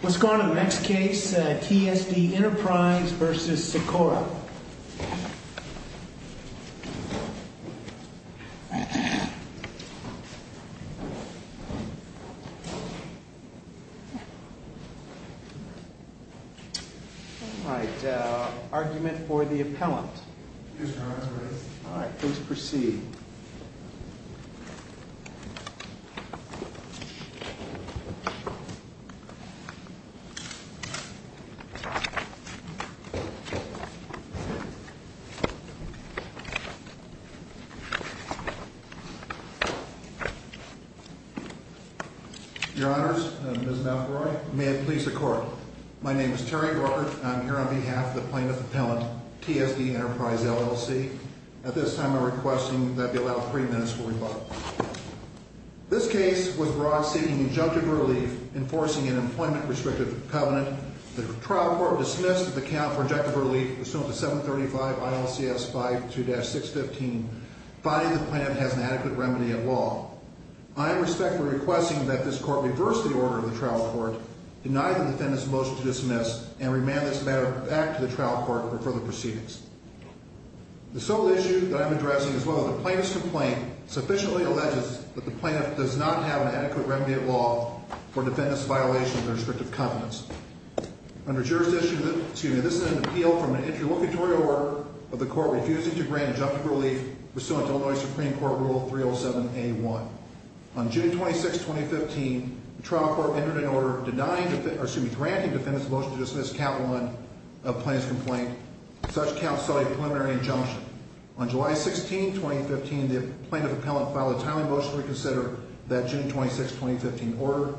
What's going on in the next case, TSD Enterprise v. Secora. All right, argument for the appellant. All right, please proceed. Your honors, Ms. McElroy, may it please the court. My name is Terry Walker, and I'm here on behalf of the plaintiff appellant, TSD Enterprise, LLC. At this time, I'm requesting that we allow three minutes for rebuttal. This case was brought seeking injunctive relief, enforcing an employment-restrictive covenant. The trial court dismissed the account for injunctive relief pursuant to 735 ILCS 52-615, finding the plan has an adequate remedy of law. I am respectfully requesting that this court reverse the order of the trial court, deny the defendant's motion to dismiss, and remand this matter back to the trial court for further proceedings. The sole issue that I'm addressing is whether the plaintiff's complaint sufficiently alleges that the plaintiff does not have an adequate remedy of law for defendant's violation of the restrictive covenants. Under jurisdiction, excuse me, this is an appeal from an interlocutory order of the court refusing to grant injunctive relief pursuant to Illinois Supreme Court Rule 307A1. On June 26, 2015, the trial court entered an order denying, or excuse me, granting the defendant's motion to dismiss account one of plaintiff's complaint. Such count saw a preliminary injunction. On July 16, 2015, the plaintiff appellant filed a tiling motion to reconsider that June 26, 2015 order.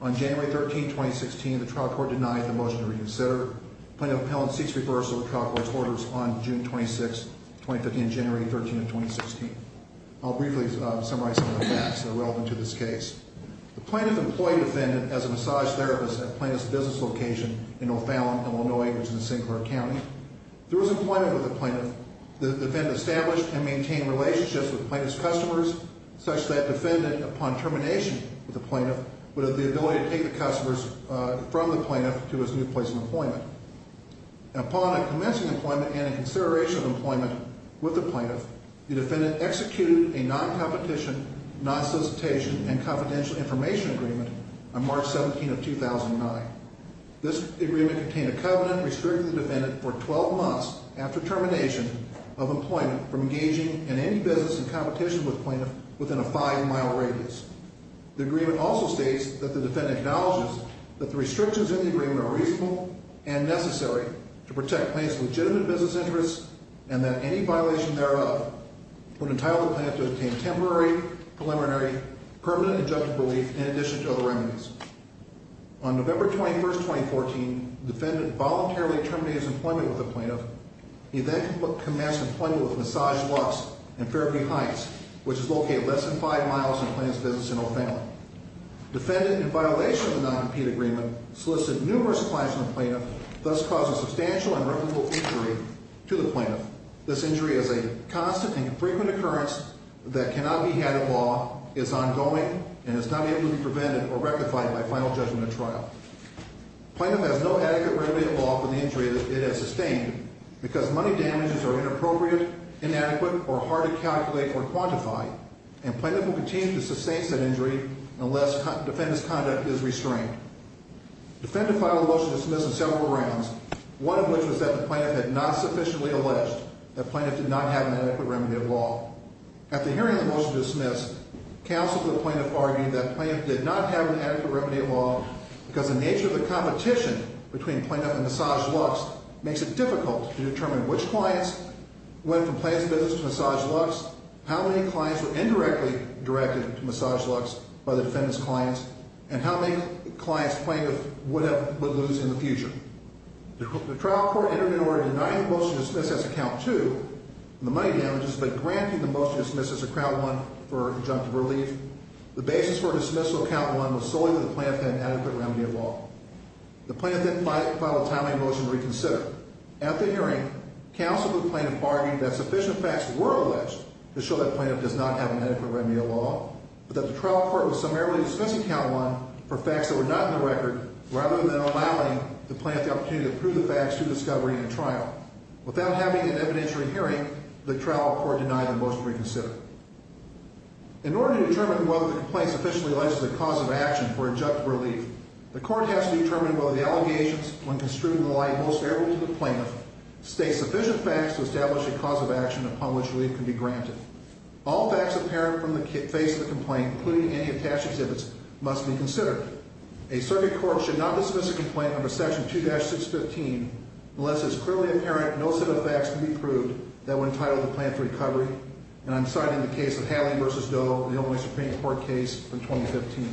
On January 13, 2016, the trial court denied the motion to reconsider. Plaintiff appellant seeks reversal of the trial court's orders on June 26, 2015, January 13, 2016. I'll briefly summarize some of the facts that are relevant to this case. The plaintiff employed defendant as a massage therapist at plaintiff's business location in O'Fallon, Illinois, which is in Sinclair County. Through his employment with the plaintiff, the defendant established and maintained relationships with plaintiff's customers such that defendant, upon termination with the plaintiff, would have the ability to take the customers from the plaintiff to his new place of employment. Upon a commencing employment and a consideration of employment with the plaintiff, the defendant executed a non-competition, non-solicitation, and confidential information agreement on March 17 of 2009. This agreement contained a covenant restricting the defendant for 12 months after termination of employment from engaging in any business and competition with plaintiff within a five-mile radius. The agreement also states that the defendant acknowledges that the restrictions in the agreement are reasonable and necessary to protect plaintiff's legitimate business interests and that any violation thereof would entitle the plaintiff to obtain temporary, preliminary, permanent, and judgmental relief in addition to other remedies. On November 21, 2014, the defendant voluntarily terminated his employment with the plaintiff. He then commenced employment with Massage Lux in Fairview Heights, which is located less than five miles from the plaintiff's business in O'Fallon. Defendant, in violation of the non-compete agreement, solicited numerous clients from the plaintiff, thus causing substantial and reputable injury to the plaintiff. This injury is a constant and frequent occurrence that cannot be had at law, is ongoing, and is not able to be prevented or rectified by final judgment at trial. Plaintiff has no adequate remedy at law for the injury it has sustained because money damages are inappropriate, inadequate, or hard to calculate or quantify, and plaintiff will continue to sustain said injury unless defendant's conduct is restrained. Defendant filed a motion to dismiss in several rounds, one of which was that the plaintiff had not sufficiently alleged that the plaintiff did not have an adequate remedy at law. After hearing the motion to dismiss, counsel to the plaintiff argued that the plaintiff did not have an adequate remedy at law because the nature of the competition between plaintiff and Massage Lux makes it difficult to determine which clients went from plaintiff's business to Massage Lux, how many clients were indirectly directed to Massage Lux by the defendant's clients, and how many clients plaintiff would lose in the future. The trial court entered in order to deny the motion to dismiss as to count two, the money damages, but granted the motion to dismiss as to count one for injunctive relief. The basis for dismissal of count one was solely for the plaintiff to have an adequate remedy at law. The plaintiff then filed a timely motion to reconsider. After hearing, counsel to the plaintiff argued that sufficient facts were alleged to show that the plaintiff does not have an adequate remedy at law, but that the trial court was summarily dismissing count one for facts that were not in the record, rather than allowing the plaintiff the opportunity to prove the facts through discovery and trial. Without having an evidentiary hearing, the trial court denied the motion to reconsider. In order to determine whether the complaint is sufficiently alleged as a cause of action for injunctive relief, the court has to determine whether the allegations, when construed in the light most favorable to the plaintiff, state sufficient facts to establish a cause of action upon which relief can be granted. All facts apparent from the face of the complaint, including any attached exhibits, must be considered. A circuit court should not dismiss a complaint under Section 2-615 unless it is clearly apparent no set of facts can be proved that were entitled to plan for recovery, and I'm citing the case of Haley v. Doe, the only Supreme Court case from 2015.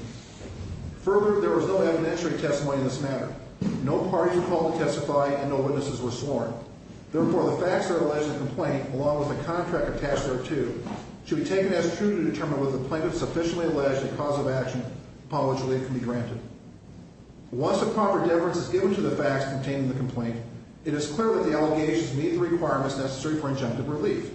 Further, there was no evidentiary testimony in this matter. No parties were called to testify, and no witnesses were sworn. Therefore, the facts that are alleged in the complaint, along with the contract attached thereto, should be taken as true to determine whether the plaintiff sufficiently alleged a cause of action upon which relief can be granted. Once a proper deference is given to the facts contained in the complaint, it is clear that the allegations meet the requirements necessary for injunctive relief.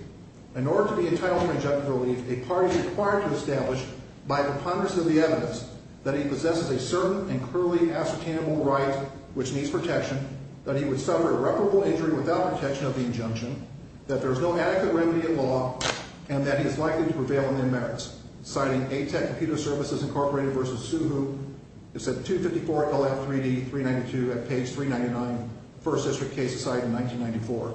In order to be entitled to injunctive relief, a party is required to establish, by preponderance of the evidence, that he possesses a certain and clearly ascertainable right which needs protection, that he would suffer irreparable injury without protection of the injunction, that there is no adequate remedy in law, and that he is likely to prevail in their merits. Citing A-Tech Computer Services, Incorporated v. Suhu, it's at 254 LF3D 392 at page 399, first district case assigned in 1994.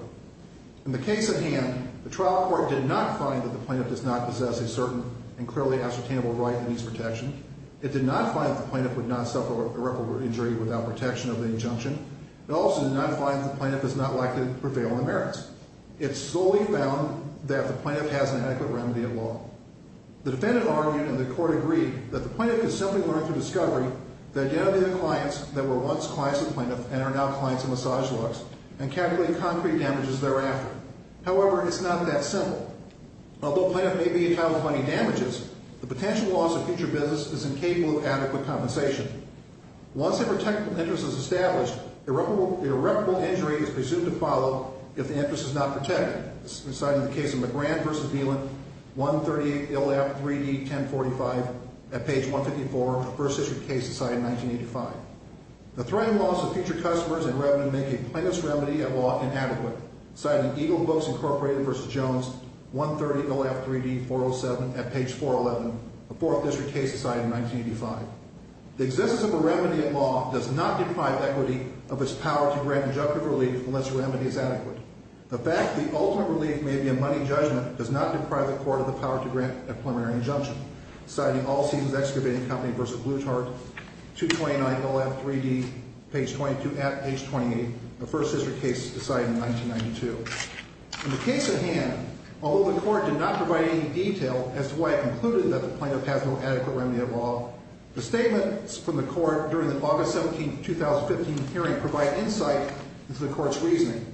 In the case at hand, the trial court did not find that the plaintiff does not possess a certain and clearly ascertainable right that needs protection. It did not find that the plaintiff would not suffer irreparable injury without protection of the injunction. It also did not find that the plaintiff is not likely to prevail in the merits. It solely found that the plaintiff has an adequate remedy in law. The defendant argued, and the court agreed, that the plaintiff could simply learn through discovery the identity of the clients that were once clients of the plaintiff and are now clients of Massage Lux and calculate concrete damages thereafter. However, it's not that simple. Although the plaintiff may be entitled to money damages, the potential loss of future business is incapable of adequate compensation. Once a protected interest is established, irreparable injury is presumed to follow if the interest is not protected. This is cited in the case of McGrann v. Deland, 138 LF3D 1045 at page 154, first district case decided in 1985. The threat and loss of future customers and revenue make a plaintiff's remedy in law inadequate, cited in Eagle Books, Inc. v. Jones, 130 LF3D 407 at page 411, a fourth district case decided in 1985. The existence of a remedy in law does not deprive equity of its power to grant injunctive relief unless the remedy is adequate. The fact the ultimate relief may be a money judgment does not deprive the court of the power to grant a preliminary injunction, cited in All Seasons Excavating Company v. Bluetart, 229 LF3D page 22 at page 28, a first district case decided in 1992. In the case at hand, although the court did not provide any detail as to why it concluded that the plaintiff has no adequate remedy of law, the statements from the court during the August 17, 2015 hearing provide insight into the court's reasoning.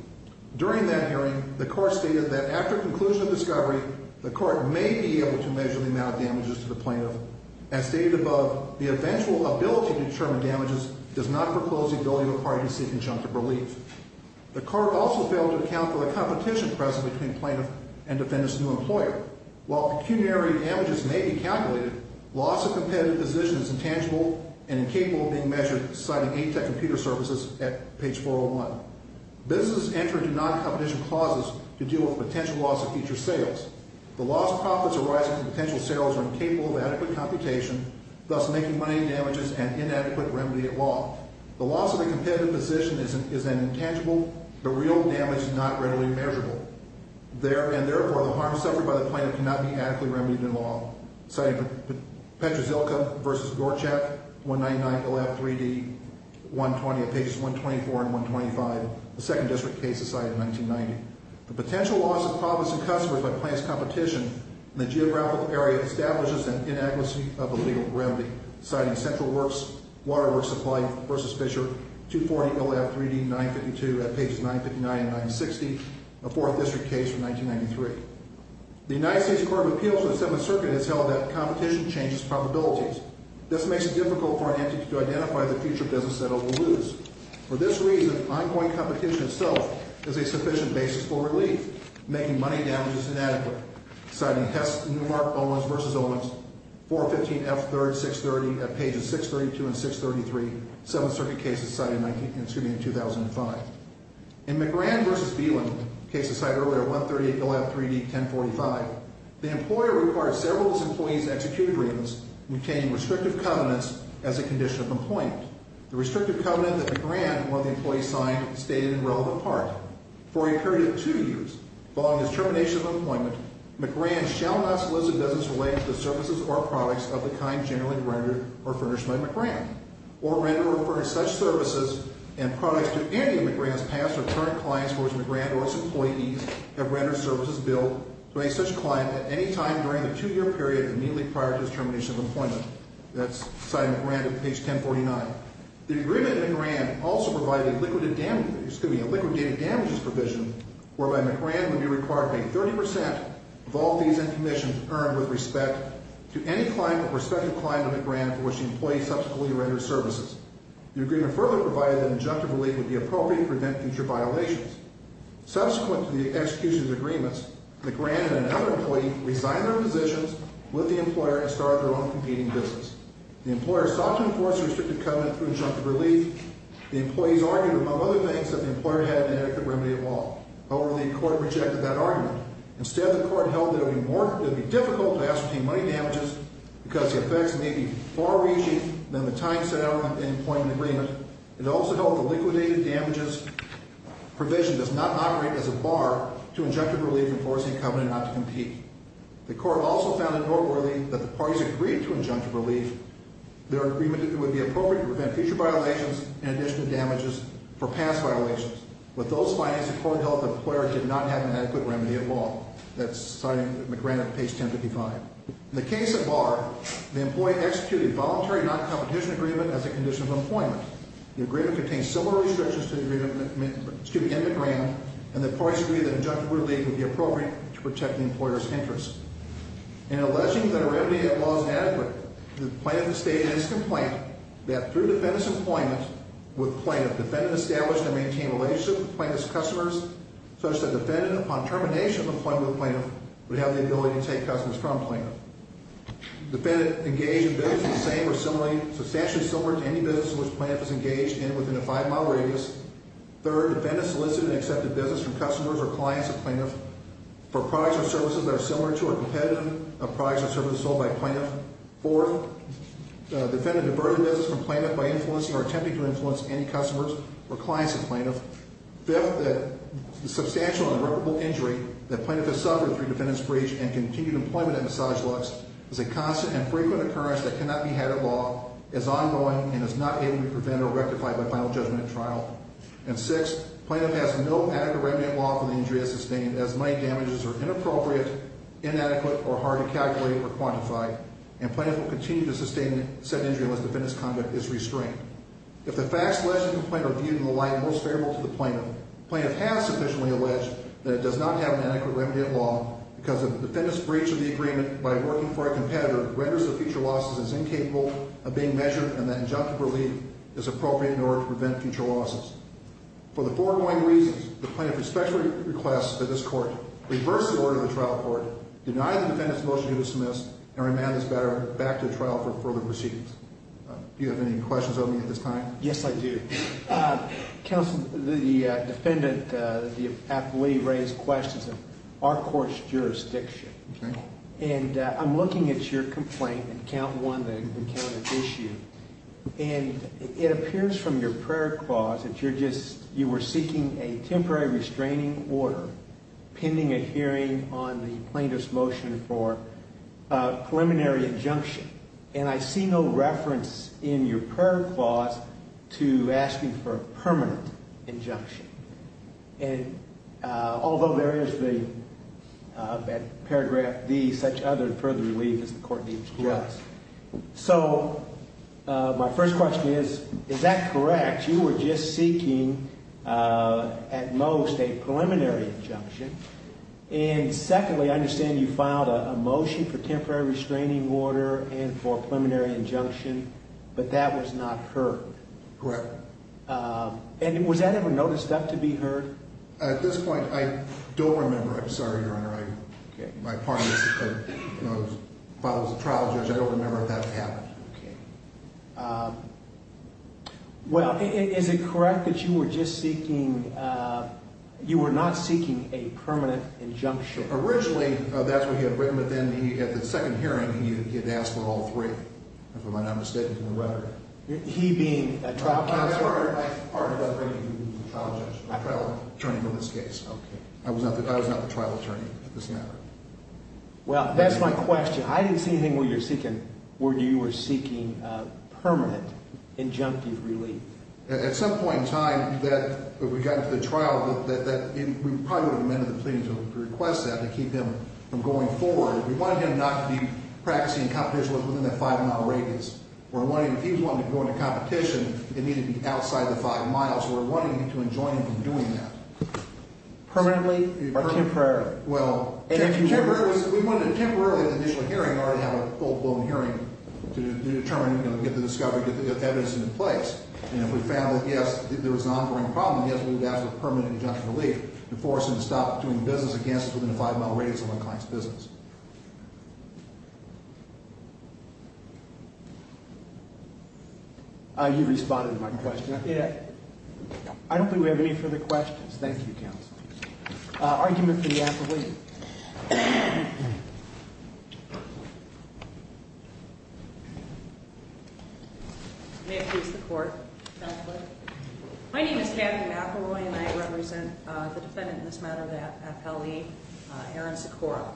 During that hearing, the court stated that after conclusion of discovery, the court may be able to measure the amount of damages to the plaintiff. As stated above, the eventual ability to determine damages does not foreclose the ability of a party to seek injunctive relief. The court also failed to account for the competition present between plaintiff and defendant's new employer. While pecuniary damages may be calculated, loss of competitive position is intangible and incapable of being measured, citing A-Tech Computer Services at page 401. Businesses enter into noncompetition clauses to deal with potential loss of future sales. The loss of profits arising from potential sales are incapable of adequate computation, thus making money damages an inadequate remedy of law. The loss of a competitive position is intangible, but real damage is not readily measurable. And therefore, the harm suffered by the plaintiff cannot be adequately remedied in law, citing Petrozilka v. Gorchak, 199, ILF 3D, 120 at pages 124 and 125, the second district case decided in 1990. The potential loss of profits and customers by plaintiff's competition in the geographical area establishes an inadequacy of a legal remedy, citing Central Works Water Works Supply v. Fisher, 240, ILF 3D, 952 at pages 959 and 960, the fourth district case from 1993. The United States Court of Appeals of the Seventh Circuit has held that competition changes probabilities. This makes it difficult for an entity to identify the future business that it will lose. For this reason, ongoing competition itself is a sufficient basis for relief, making money damages inadequate, citing Hess, Newmark, Owens v. Owens, 415F3, 630 at pages 632 and 633, Seventh Circuit case decided in 2005. In McGrann v. Beeland, case decided earlier, 138, ILF 3D, 1045, the employer required several of his employees to execute agreements, obtaining restrictive covenants as a condition of employment. The restrictive covenant that McGrann and one of the employees signed stayed in irrelevant part for a period of two years, following his termination of employment, McGrann shall not solicit business related to the services or products of the kind generally rendered or furnished by McGrann, or rendered or furnished such services and products to any of McGrann's past or current clients for which McGrann or its employees have rendered services billed to any such client at any time during the two-year period immediately prior to his termination of employment. That's citing McGrann at page 1049. The agreement in McGrann also provided a liquidated damages provision whereby McGrann would be required to pay 30% of all fees and commissions earned with respect to any client or prospective client of McGrann for which the employee subsequently rendered services. The agreement further provided that injunctive relief would be appropriate to prevent future violations. Subsequent to the execution of the agreements, McGrann and another employee resigned their positions with the employer and started their own competing business. The employer sought to enforce a restricted covenant through injunctive relief. The employees argued, among other things, that the employer had an inadequate remedy at law. However, the court rejected that argument. Instead, the court held that it would be difficult to ascertain money damages because the effects may be far reaching than the time set out in the employment agreement. It also held the liquidated damages provision does not operate as a bar to injunctive relief enforcing a covenant not to compete. The court also found it noteworthy that the parties agreed to injunctive relief. Their agreement would be appropriate to prevent future violations in addition to damages for past violations. With those findings, the court held that the employer did not have an adequate remedy at law. That's citing McGrann at page 1055. In the case of Barr, the employee executed voluntary non-competition agreement as a condition of employment. The agreement contained similar restrictions to the agreement, excuse me, in McGrann, and the parties agreed that injunctive relief would be appropriate to protect the employer's interests. In alleging that a remedy at law is inadequate, the plaintiff has stated in his complaint that through defendant's employment with plaintiff, defendant established and maintained a relationship with plaintiff's customers such that defendant upon termination of employment with plaintiff would have the ability to take customers from plaintiff. Defendant engaged in business of the same or substantially similar to any business in which plaintiff is engaged and within a five mile radius. Third, defendant solicited and accepted business from customers or clients of plaintiff for products or services that are similar to or competitive of products or services sold by plaintiff. Fourth, defendant diverted business from plaintiff by influencing or attempting to influence any customers or clients of plaintiff. Fifth, the substantial and irreparable injury that plaintiff has suffered through defendant's breach and continued employment at Massage Lux is a constant and frequent occurrence that cannot be had at law, is ongoing, and is not able to be prevented or rectified by final judgment at trial. And sixth, plaintiff has no adequate remedy at law for the injury as sustained as money damages are inappropriate, inadequate, or hard to calculate or quantify. And plaintiff will continue to sustain said injury unless defendant's conduct is restrained. If the facts alleged in the complaint are viewed in the light most favorable to the plaintiff, plaintiff has sufficiently alleged that it does not have an adequate remedy at law because the defendant's breach of the agreement by working for a competitor renders the future losses as incapable of being measured and that injunctive relief is appropriate in order to prevent future losses. For the foregoing reasons, the plaintiff respectfully requests that this court reverse the order of the trial court, deny the defendant's motion to dismiss, and remand this matter back to trial for further proceedings. Do you have any questions of me at this time? Yes, I do. Counsel, the defendant, the athlete raised questions of our court's jurisdiction. Okay. And I'm looking at your complaint in count one, the count of issue, and it appears from your prayer clause that you're just, you were seeking a temporary restraining order pending a hearing on the plaintiff's motion for a preliminary injunction. And I see no reference in your prayer clause to asking for a permanent injunction. And although there is the paragraph D, such other and further relief as the court needs for us. Yes. So my first question is, is that correct? You were just seeking at most a preliminary injunction. And secondly, I understand you filed a motion for temporary restraining order and for a preliminary injunction, but that was not heard. Correct. And was that ever noticed that to be heard? At this point, I don't remember. I'm sorry, Your Honor. Okay. My apologies. I was a trial judge. I don't remember if that happened. Okay. Well, is it correct that you were just seeking, you were not seeking a permanent injunction? Originally, that's what he had written. But then he, at the second hearing, he had asked for all three, if I'm not mistaken, in the rhetoric. He being a trial counsel? I'm sorry about that. I'm a trial judge. I'm a trial attorney in this case. Okay. I was not the trial attorney at this matter. Well, that's my question. I didn't see anything where you were seeking permanent injunctive relief. At some point in time that we got into the trial, we probably would have amended the plea to request that to keep him from going forward. We wanted him not to be practicing competition within that five-mile radius. If he was wanting to go into competition, it needed to be outside the five miles. We were wanting him to enjoin him from doing that. Permanently or temporarily? Well, we wanted him temporarily at the initial hearing or to have a full-blown hearing to determine, you know, get the discovery, get the evidence in place. And if we found that, yes, there was an ongoing problem, yes, we would ask for permanent injunctive relief to force him to stop doing business against us within a five-mile radius of a client's business. You responded to my question. Yeah. I don't think we have any further questions. Thank you, counsel. Argument for the affidavit. May it please the Court, Counselor? My name is Tammy McElroy, and I represent the defendant in this matter, the FLE, Aaron Socorro.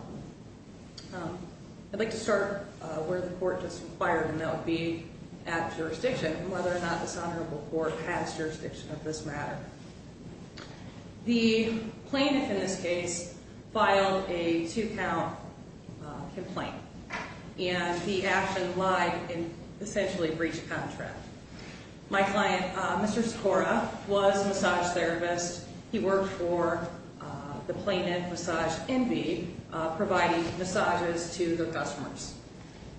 I'd like to start where the Court just inquired, and that would be at jurisdiction, whether or not dishonorable court has jurisdiction of this matter. The plaintiff in this case filed a two-count complaint, and the action lied in essentially breach of contract. My client, Mr. Socorro, was a massage therapist. He worked for the plaintiff, Massage Envy, providing massages to their customers.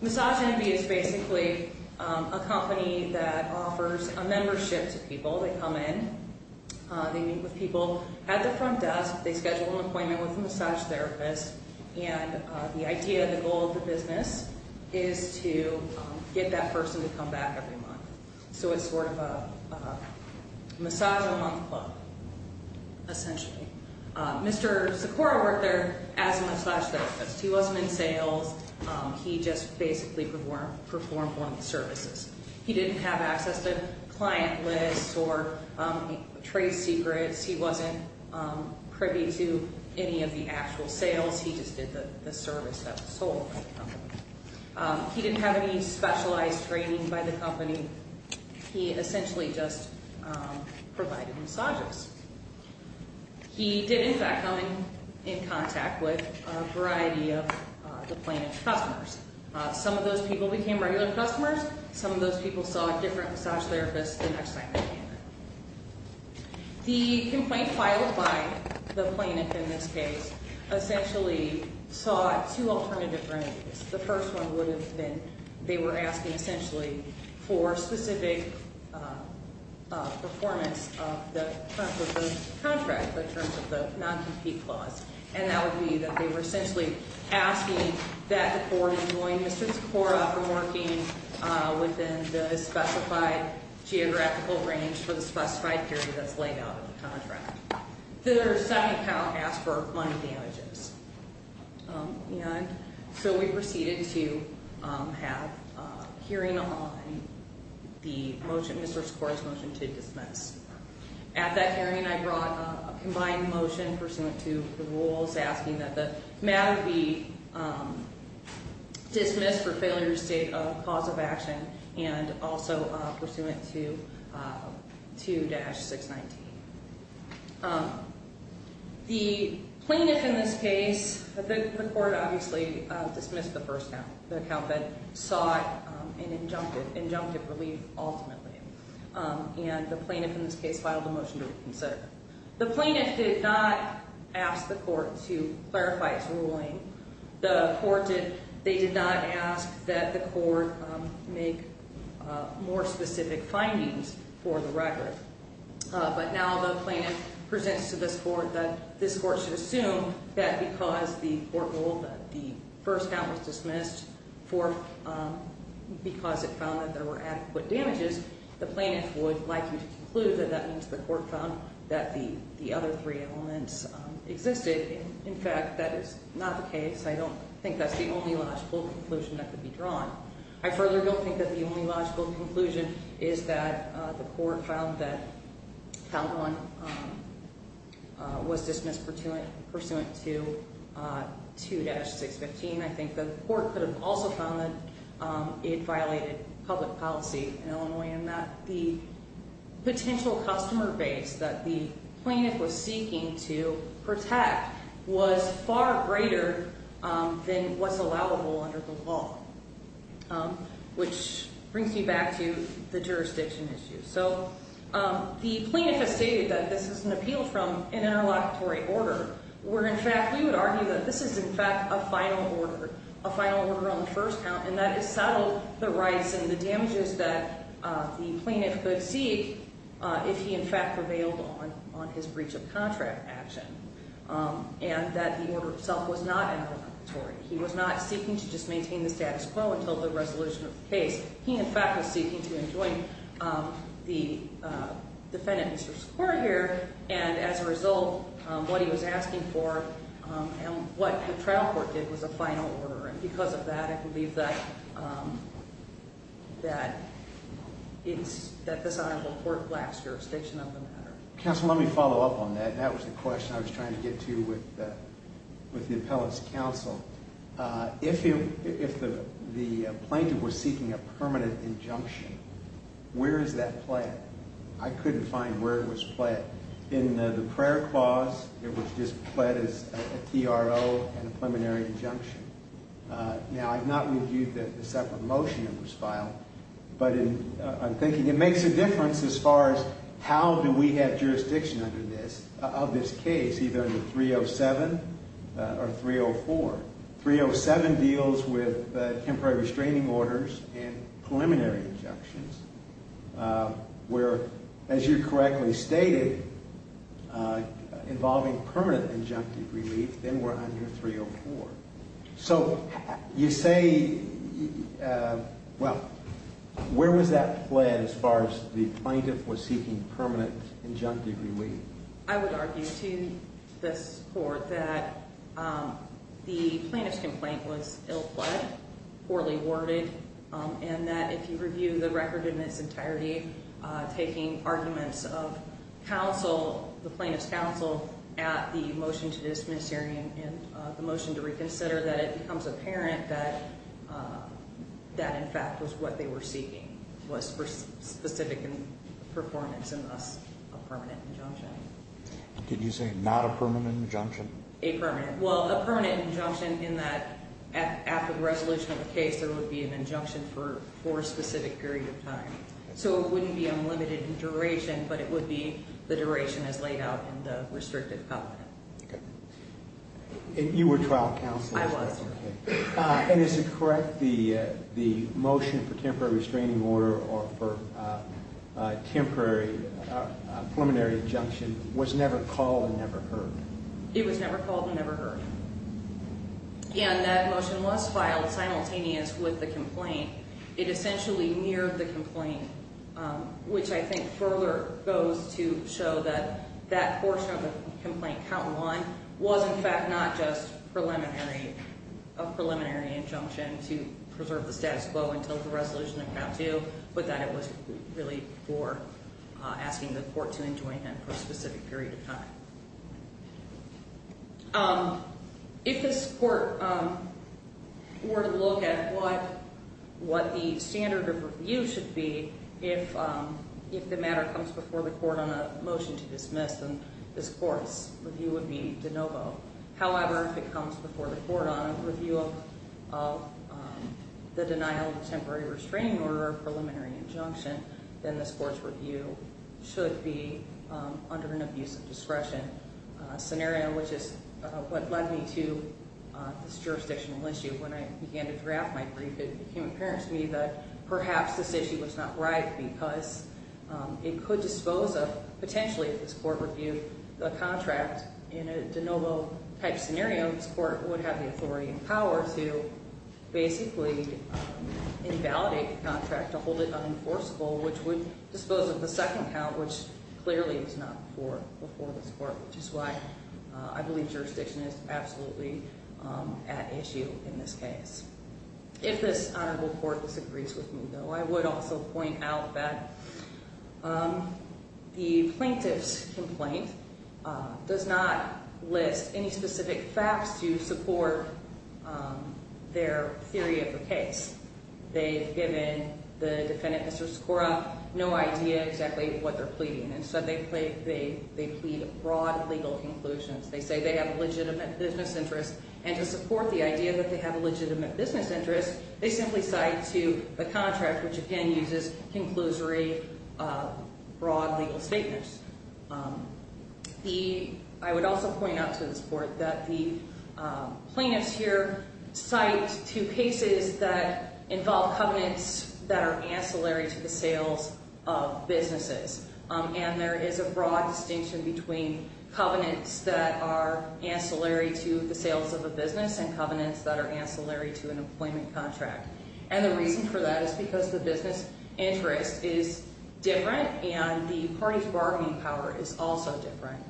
Massage Envy is basically a company that offers a membership to people. They come in. They meet with people at the front desk. They schedule an appointment with a massage therapist, and the idea, the goal of the business is to get that person to come back every month. So it's sort of a massage-a-month club, essentially. Mr. Socorro worked there as a massage therapist. He wasn't in sales. He just basically performed one of the services. He didn't have access to client lists or trade secrets. He wasn't privy to any of the actual sales. He just did the service that was sold by the company. He didn't have any specialized training by the company. He essentially just provided massages. He did, in fact, come in contact with a variety of the plaintiff's customers. Some of those people became regular customers. Some of those people saw a different massage therapist the next time they came in. The complaint filed by the plaintiff in this case essentially sought two alternative remedies. The first one would have been they were asking essentially for specific performance of the contract in terms of the non-compete clause, and that would be that they were essentially asking that the court enjoin Mr. Socorro from working within the specified geographical range for the specified period that's laid out in the contract. The second count asked for money damages. So we proceeded to have a hearing on the motion, Mr. Socorro's motion to dismiss. At that hearing, I brought a combined motion pursuant to the rules asking that the matter be dismissed for failure to state a cause of action and also pursuant to 2-619. The plaintiff in this case, the court obviously dismissed the first count, the count that sought an injunctive relief ultimately. And the plaintiff in this case filed a motion to reconsider. The plaintiff did not ask the court to clarify its ruling. They did not ask that the court make more specific findings for the record. But now the plaintiff presents to this court that this court should assume that because the court ruled that the first count was dismissed because it found that there were adequate damages, the plaintiff would like you to conclude that that means the court found that the other three elements existed. In fact, that is not the case. I don't think that's the only logical conclusion that could be drawn. I further don't think that the only logical conclusion is that the court found that count one was dismissed pursuant to 2-615. I think the court could have also found that it violated public policy in Illinois and that the potential customer base that the plaintiff was seeking to protect was far greater than what's allowable under the law. Which brings me back to the jurisdiction issue. So the plaintiff has stated that this is an appeal from an interlocutory order where in fact we would argue that this is in fact a final order, a final order on the first count and that it settled the rights and the damages that the plaintiff could seek if he in fact prevailed on his breach of contract action. And that the order itself was not interlocutory. He was not seeking to just maintain the status quo until the resolution of the case. He in fact was seeking to enjoin the defendant in this court here and as a result what he was asking for and what the trial court did was a final order. And because of that I believe that this honorable court lacks jurisdiction on the matter. Counsel, let me follow up on that. That was the question I was trying to get to with the appellate's counsel. If the plaintiff was seeking a permanent injunction, where is that pled? I couldn't find where it was pled. In the prayer clause it was just pled as a TRO and a preliminary injunction. Now I've not reviewed the separate motion that was filed, but I'm thinking it makes a difference as far as how do we have jurisdiction under this, of this case, either under 307 or 304. 307 deals with temporary restraining orders and preliminary injunctions. Where, as you correctly stated, involving permanent injunctive relief, then we're under 304. So you say, well, where was that pled as far as the plaintiff was seeking permanent injunctive relief? I would argue to this court that the plaintiff's complaint was ill-pled, poorly worded, and that if you review the record in its entirety, taking arguments of counsel, the plaintiff's counsel, at the motion to dismiss hearing and the motion to reconsider, that it becomes apparent that that in fact was what they were seeking, was for specific performance and thus a permanent injunction. Did you say not a permanent injunction? A permanent. Well, a permanent injunction in that after the resolution of the case there would be an injunction for a specific period of time. So it wouldn't be unlimited in duration, but it would be the duration as laid out in the restrictive covenant. Okay. And you were trial counsel? I was. Okay. And is it correct the motion for temporary restraining order or for temporary preliminary injunction was never called and never heard? It was never called and never heard. It essentially mirrored the complaint, which I think further goes to show that that portion of the complaint, count one, was in fact not just a preliminary injunction to preserve the status quo until the resolution of count two, but that it was really for asking the court to enjoin it for a specific period of time. If this court were to look at what the standard of review should be, if the matter comes before the court on a motion to dismiss, then this court's review would be de novo. However, if it comes before the court on a review of the denial of the temporary restraining order or preliminary injunction, then this court's review should be under an abuse of discretion scenario, which is what led me to this jurisdictional issue. When I began to draft my brief, it became apparent to me that perhaps this issue was not right because it could dispose of, potentially if this court reviewed the contract in a de novo type scenario, this court would have the authority and power to basically invalidate the contract to hold it unenforceable, which would dispose of the second count, which clearly is not before this court, which is why I believe jurisdiction is absolutely at issue in this case. If this honorable court disagrees with me, though, I would also point out that the plaintiff's complaint does not list any specific facts to support their theory of the case. They've given the defendant, Mr. Skora, no idea exactly what they're pleading, and so they plead broad legal conclusions. They say they have a legitimate business interest, and to support the idea that they have a legitimate business interest, they simply cite to the contract, which again uses conclusory broad legal statements. I would also point out to this court that the plaintiffs here cite two cases that involve covenants that are ancillary to the sales of businesses, and there is a broad distinction between covenants that are ancillary to the sales of a business and covenants that are ancillary to an employment contract. And the reason for that is because the business interest is different, and the parties' bargaining power is also different.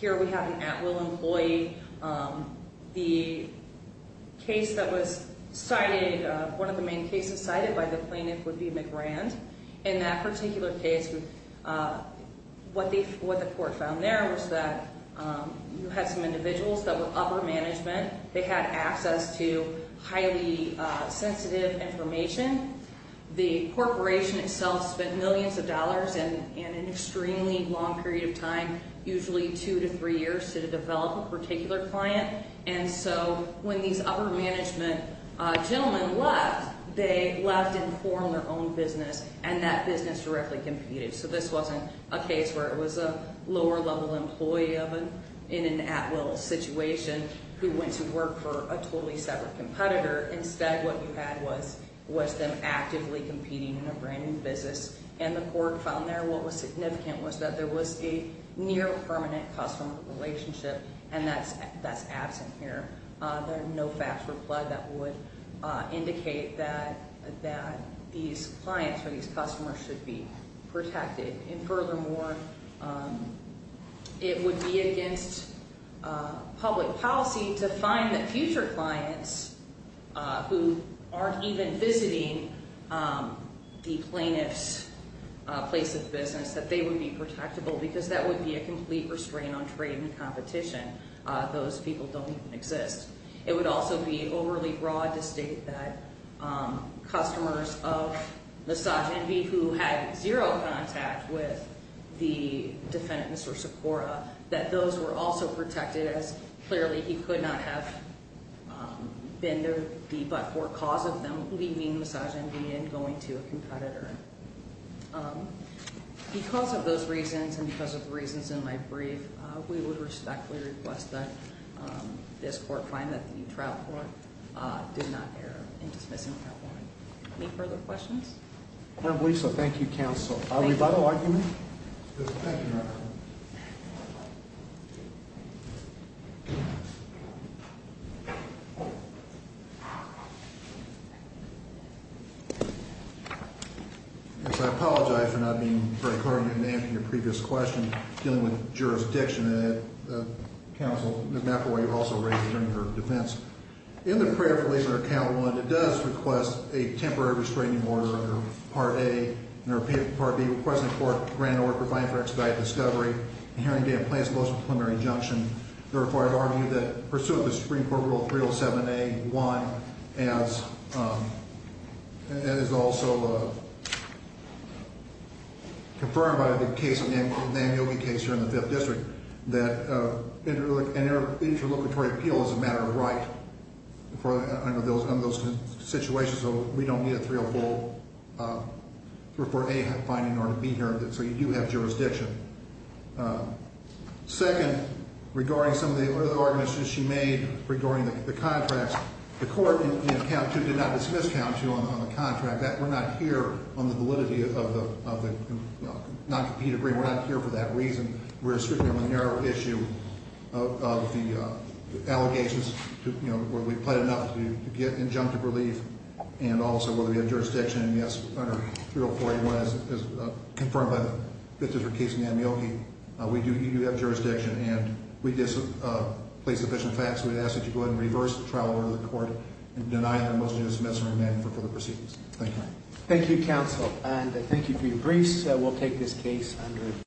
Here we have an at-will employee. The case that was cited, one of the main cases cited by the plaintiff would be McRand. In that particular case, what the court found there was that you had some individuals that were upper management. They had access to highly sensitive information. The corporation itself spent millions of dollars in an extremely long period of time, usually two to three years, to develop a particular client. And so when these upper management gentlemen left, they left and formed their own business, and that business directly competed. So this wasn't a case where it was a lower-level employee in an at-will situation who went to work for a totally separate competitor. Instead, what you had was them actively competing in a brand-new business. And the court found there what was significant was that there was a near-permanent customer relationship, and that's absent here. There are no facts for flood that would indicate that these clients or these customers should be protected. And furthermore, it would be against public policy to find that future clients who aren't even visiting the plaintiff's place of business, that they would be protectable because that would be a complete restraint on trade and competition. Those people don't even exist. It would also be overly broad to state that customers of Massage Envy, who had zero contact with the defendant, Mr. Sikora, that those were also protected, as clearly he could not have been the but-for cause of them leaving Massage Envy and going to a competitor. Because of those reasons, and because of the reasons in my brief, we would respectfully request that this court find that the new trial court did not err in dismissing that warrant. Any further questions? Madam Lisa, thank you, counsel. Are we by the argument? Yes, thank you, madam. Yes, I apologize for not being very clear on your name in your previous question, dealing with jurisdiction. And counsel, Ms. McElroy, you've also raised it in your defense. In the prayer for labor count one, it does request a temporary restraining order under Part A, and under Part B, requesting the court grant an order providing for expedited discovery, and hearing day of plaintiff's most preliminary injunction. Therefore, I'd argue that pursuit of the Supreme Court Rule 307A-1 is also confirmed by the case, the Namboghe case here in the Fifth District, that an interlocutory appeal is a matter of right under those situations, so we don't need a 304 for A finding or B hearing, so you do have jurisdiction. Second, regarding some of the other arguments you made regarding the contracts, the court in count two did not dismiss count two on the contract. We're not here on the validity of the non-competitive agreement. We're not here for that reason. We're strictly on the narrow issue of the allegations, whether we've pled enough to get injunctive relief, and also whether we have jurisdiction, and yes, under 304A-1, as confirmed by the Fifth District case in Namboghe, we do have jurisdiction, and we did place sufficient facts, and we'd ask that you go ahead and reverse the trial order to the court and deny that it was dismissed and remanded for further proceedings. Thank you. Thank you, counsel, and thank you for your briefs. We'll take this case under adjournment.